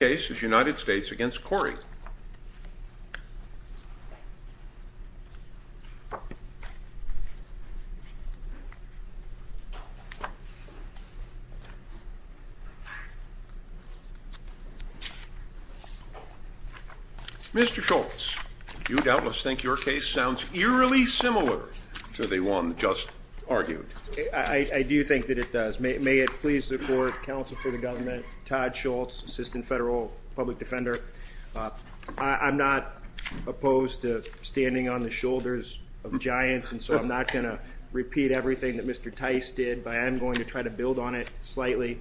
Mr. Schultz, do you doubtless think your case sounds eerily similar to the one just argued? I do think that it does. May it please the court, counsel for the government, Todd Schultz, Assistant Federal Public Defender, I'm not opposed to standing on the shoulders of giants, and so I'm not going to repeat everything that Mr. Tice did, but I am going to try to build on it slightly.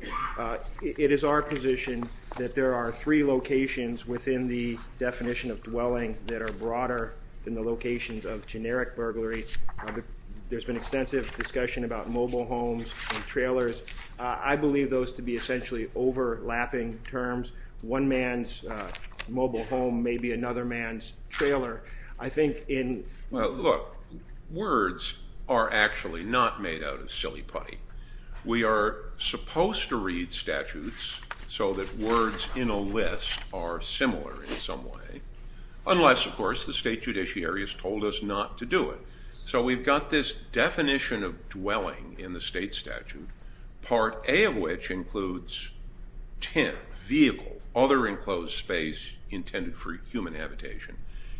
It is our position that there are three locations within the definition of dwelling that are broader than the locations of generic burglary. There's been extensive discussion about mobile homes and trailers. I believe those to be essentially overlapping terms. One man's mobile home may be another man's trailer. Look, words are actually not made out of silly putty. We are supposed to read statutes so that words in a list are similar in some way, unless of course the state judiciary has told us not to do it. So we've got this definition of dwelling in the state statute, Part A of which includes tent, vehicle, other enclosed space intended for human habitation,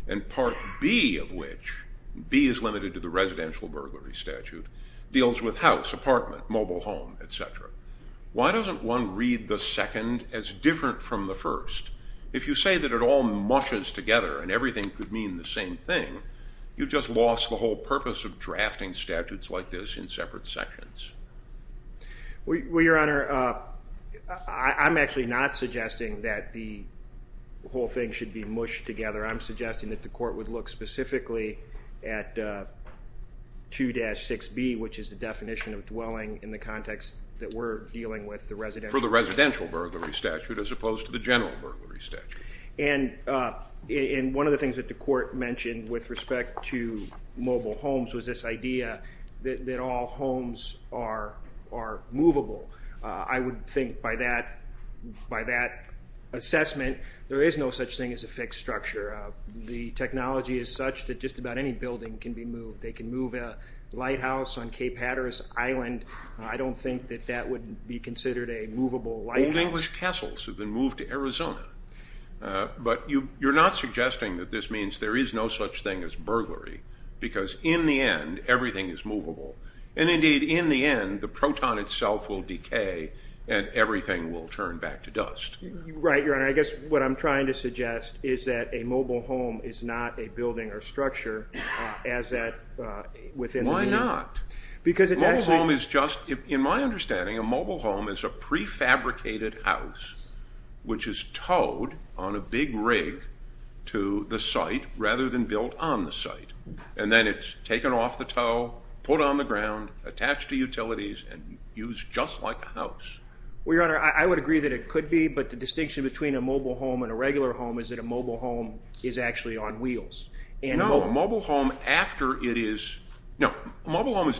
and Part B of which, B is limited to the residential burglary statute, deals with house, apartment, mobile home, etc. Why doesn't one read the second as different from the first? If you say that it all mushes together and everything could mean the same thing, you've just lost the whole purpose of drafting statutes like this in separate sections. Well, Your Honor, I'm actually not suggesting that the whole thing should be mushed together. I'm suggesting that the court would look specifically at 2-6B, which is the definition of dwelling in the context that we're dealing with. For the residential burglary statute as opposed to the general burglary statute. And one of the things that the court mentioned with respect to mobile homes was this idea that all homes are movable. I would think by that assessment, there is no such thing as a fixed structure. The technology is such that just about any building can be moved. They can move a lighthouse on Cape Hatteras Island. I don't think that that would be considered a movable lighthouse. Old English castles have been moved to Arizona. But you're not suggesting that this means there is no such thing as burglary, because in the end, everything is movable. And indeed, in the end, the proton itself will decay and everything will turn back to dust. Right, Your Honor. I guess what I'm trying to suggest is that a mobile home is not a building or structure as that within the meaning. In my understanding, a mobile home is a prefabricated house, which is towed on a big rig to the site rather than built on the site. And then it's taken off the tow, put on the ground, attached to utilities, and used just like a house. Well, Your Honor, I would agree that it could be, but the distinction between a mobile home and a regular home is that a mobile home is actually on wheels. No, a mobile home is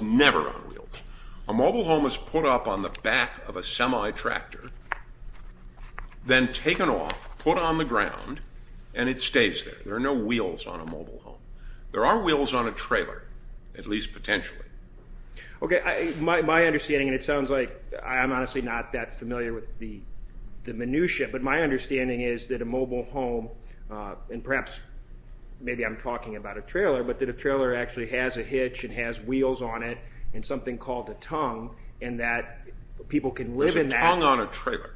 never on wheels. A mobile home is put up on the back of a semi-tractor, then taken off, put on the ground, and it stays there. There are no wheels on a mobile home. There are wheels on a trailer, at least potentially. Okay. My understanding, and it sounds like I'm honestly not that familiar with the minutiae, but my understanding is that a mobile home, and perhaps maybe I'm talking about a trailer, but that a trailer actually has a hitch and has wheels on it and something called a tongue, and that people can live in that. There's a tongue on a trailer.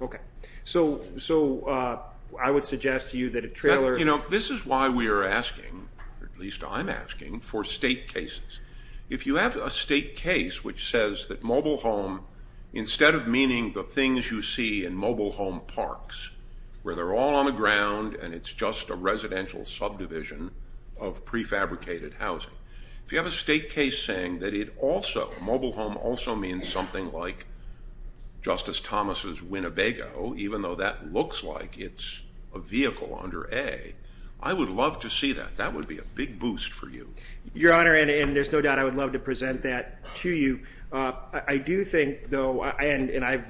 Okay. So I would suggest to you that a trailer... You know, this is why we are asking, at least I'm asking, for state cases. If you have a state case which says that mobile home, instead of meaning the things you see in mobile home parks where they're all on the ground and it's just a residential subdivision of prefabricated housing, if you have a state case saying that it also, a mobile home also means something like Justice Thomas' Winnebago, even though that looks like it's a vehicle under A, I would love to see that. That would be a big boost for you. Your Honor, and there's no doubt I would love to present that to you. I do think, though, and I've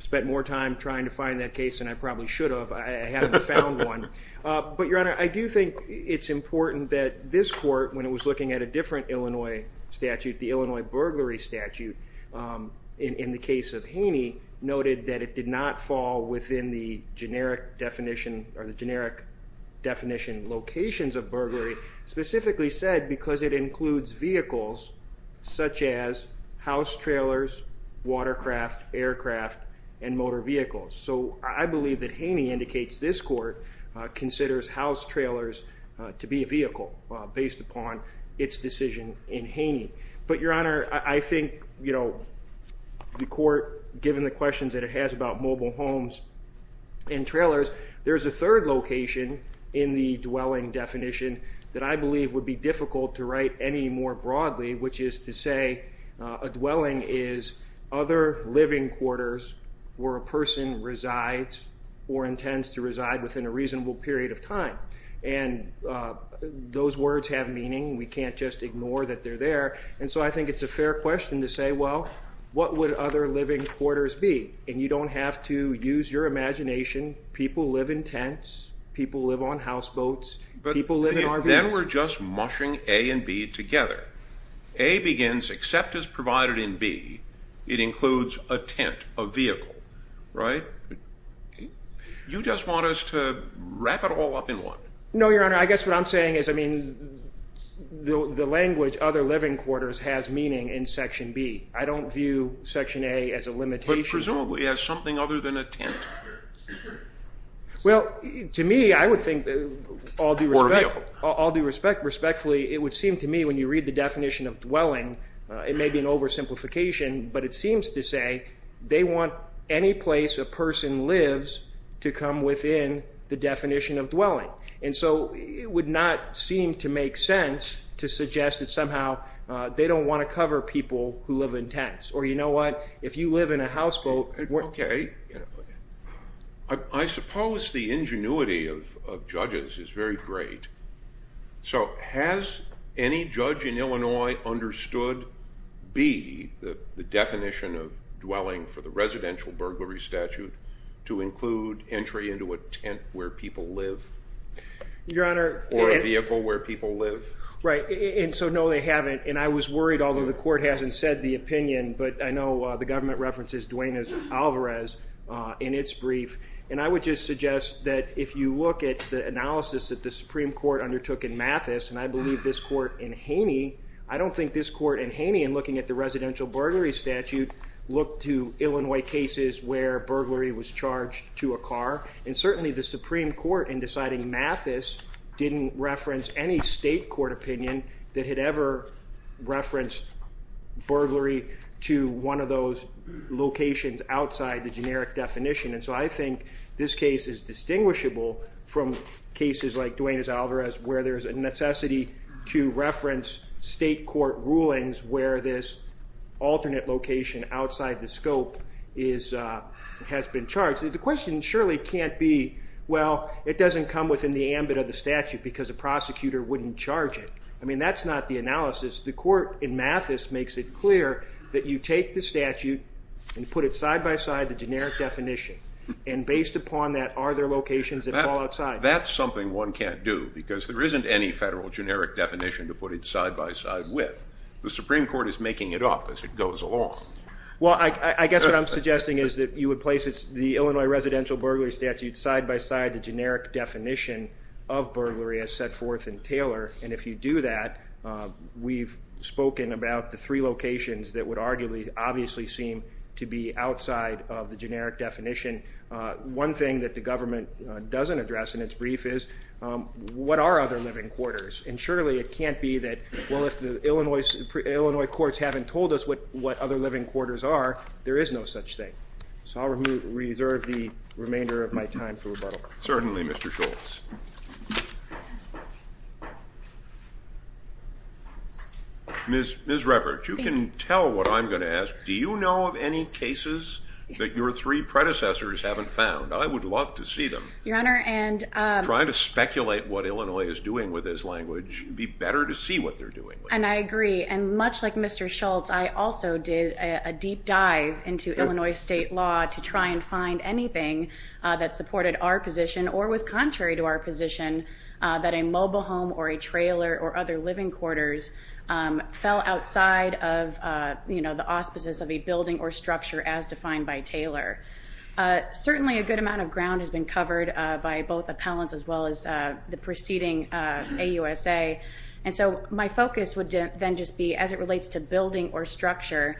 spent more time trying to find that case than I probably should have. I haven't found one. But, Your Honor, I do think it's important that this Court, when it was looking at a different Illinois statute, the Illinois burglary statute, in the case of Haney, noted that it did not fall within the generic definition or the generic definition locations of burglary, specifically said because it includes vehicles, such as house trailers, watercraft, aircraft, and motor vehicles. So I believe that Haney indicates this Court considers house trailers to be a vehicle based upon its decision in Haney. But, Your Honor, I think, you know, the Court, given the questions that it has about mobile homes and trailers, there's a third location in the dwelling definition that I believe would be difficult to write any more broadly, which is to say a dwelling is other living quarters where a person resides or intends to reside within a reasonable period of time. And those words have meaning. We can't just ignore that they're there. And so I think it's a fair question to say, well, what would other living quarters be? And you don't have to use your imagination. People live in tents. People live on houseboats. People live in RVs. And then we're just mushing A and B together. A begins, except as provided in B, it includes a tent, a vehicle, right? You just want us to wrap it all up in one. No, Your Honor. I guess what I'm saying is, I mean, the language other living quarters has meaning in Section B. I don't view Section A as a limitation. But presumably as something other than a tent. Well, to me, I would think all due respect, respectfully, it would seem to me when you read the definition of dwelling, it may be an oversimplification, but it seems to say they want any place a person lives to come within the definition of dwelling. And so it would not seem to make sense to suggest that somehow they don't want to cover people who live in tents. Or, you know what, if you live in a houseboat. Okay. I suppose the ingenuity of judges is very great. So has any judge in Illinois understood B, the definition of dwelling for the residential burglary statute, to include entry into a tent where people live? Your Honor. Or a vehicle where people live? Right. And so, no, they haven't. And I was worried, although the Court hasn't said the opinion, but I know the government references Duane Alvarez in its brief. And I would just suggest that if you look at the analysis that the Supreme Court undertook in Mathis, and I believe this Court in Haney, I don't think this Court in Haney in looking at the residential burglary statute looked to Illinois cases where burglary was charged to a car. And certainly the Supreme Court in deciding Mathis didn't reference any state court opinion that had ever referenced burglary to one of those locations outside the generic definition. And so I think this case is distinguishable from cases like Duane's Alvarez, where there's a necessity to reference state court rulings where this alternate location outside the scope has been charged. The question surely can't be, well, it doesn't come within the ambit of the statute because a prosecutor wouldn't charge it. I mean, that's not the analysis. The Court in Mathis makes it clear that you take the statute and put it side-by-side the generic definition. And based upon that, are there locations that fall outside? That's something one can't do because there isn't any federal generic definition to put it side-by-side with. The Supreme Court is making it up as it goes along. Well, I guess what I'm suggesting is that you would place the Illinois residential burglary statute side-by-side the generic definition of burglary as set forth in Taylor. And if you do that, we've spoken about the three locations that would arguably obviously seem to be outside of the generic definition. One thing that the government doesn't address in its brief is, what are other living quarters? And surely it can't be that, well, if the Illinois courts haven't told us what other living quarters are, there is no such thing. So I'll reserve the remainder of my time for rebuttal. Certainly, Mr. Schultz. Ms. Ruppert, you can tell what I'm going to ask. Do you know of any cases that your three predecessors haven't found? I would love to see them. Your Honor, and I'm trying to speculate what Illinois is doing with this language. It would be better to see what they're doing. And I agree. And much like Mr. Schultz, I also did a deep dive into Illinois state law to try and find anything that supported our position or was contrary to our position that a mobile home or a trailer or other living quarters fell outside of, you know, the auspices of a building or structure as defined by Taylor. Certainly a good amount of ground has been covered by both appellants as well as the preceding AUSA. And so my focus would then just be as it relates to building or structure,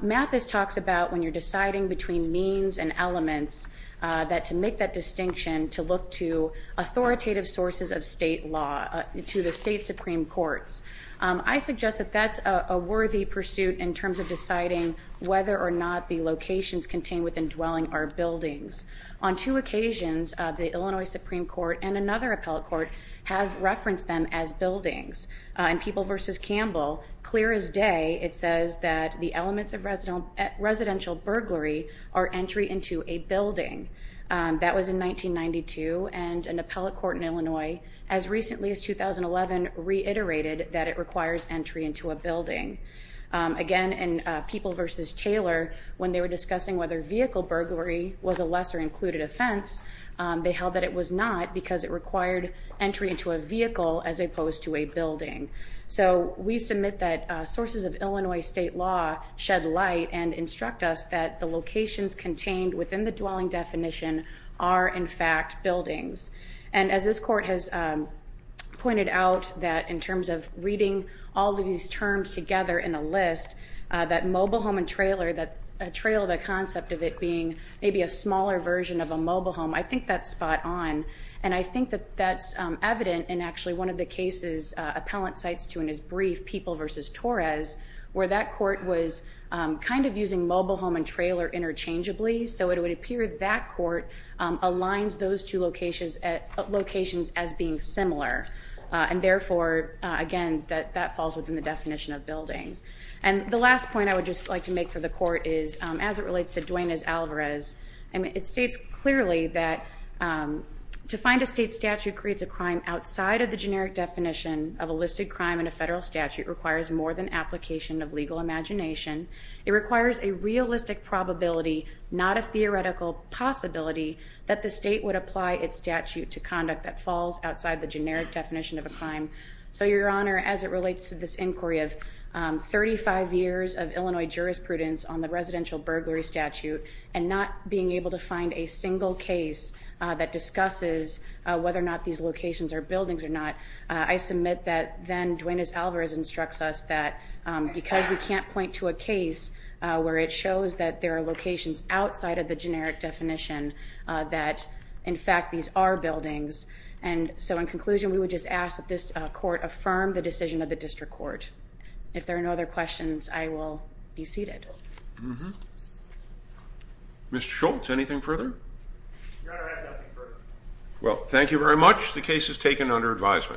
Mathis talks about when you're deciding between means and elements, that to make that distinction, to look to authoritative sources of state law, to the state supreme courts. I suggest that that's a worthy pursuit in terms of deciding whether or not the locations contained within dwelling are buildings. On two occasions, the Illinois Supreme Court and another appellate court have referenced them as buildings. In People v. Campbell, clear as day, it says that the elements of residential burglary are entry into a building. That was in 1992, and an appellate court in Illinois as recently as 2011 reiterated that it requires entry into a building. Again, in People v. Taylor, when they were discussing whether vehicle burglary was a lesser included offense, they held that it was not because it required entry into a vehicle as opposed to a building. So we submit that sources of Illinois state law shed light and instruct us that the locations contained within the dwelling definition are, in fact, buildings. And as this court has pointed out, that in terms of reading all of these terms together in a list, that mobile home and trailer, that trail, the concept of it being maybe a smaller version of a mobile home, I think that's spot on. And I think that that's evident in actually one of the cases appellant cites to in his brief, People v. Torres, where that court was kind of using mobile home and trailer interchangeably, so it would appear that court aligns those two locations as being similar. And therefore, again, that falls within the definition of building. And the last point I would just like to make for the court is, as it relates to Duane S. Alvarez, it states clearly that to find a state statute creates a crime outside of the generic definition of a listed crime and a federal statute requires more than application of legal imagination. It requires a realistic probability, not a theoretical possibility, that the state would apply its statute to conduct that falls outside the generic definition of a crime. So, Your Honor, as it relates to this inquiry of 35 years of Illinois jurisprudence on the residential burglary statute and not being able to find a single case that discusses whether or not these locations are buildings or not, I submit that then Duane S. Alvarez instructs us that because we can't point to a case where it shows that there are locations outside of the generic definition, that, in fact, these are buildings. And so, in conclusion, we would just ask that this court affirm the decision of the district court. If there are no other questions, I will be seated. Mr. Schultz, anything further? Your Honor, I have nothing further. Well, thank you very much. The case is taken under advisement.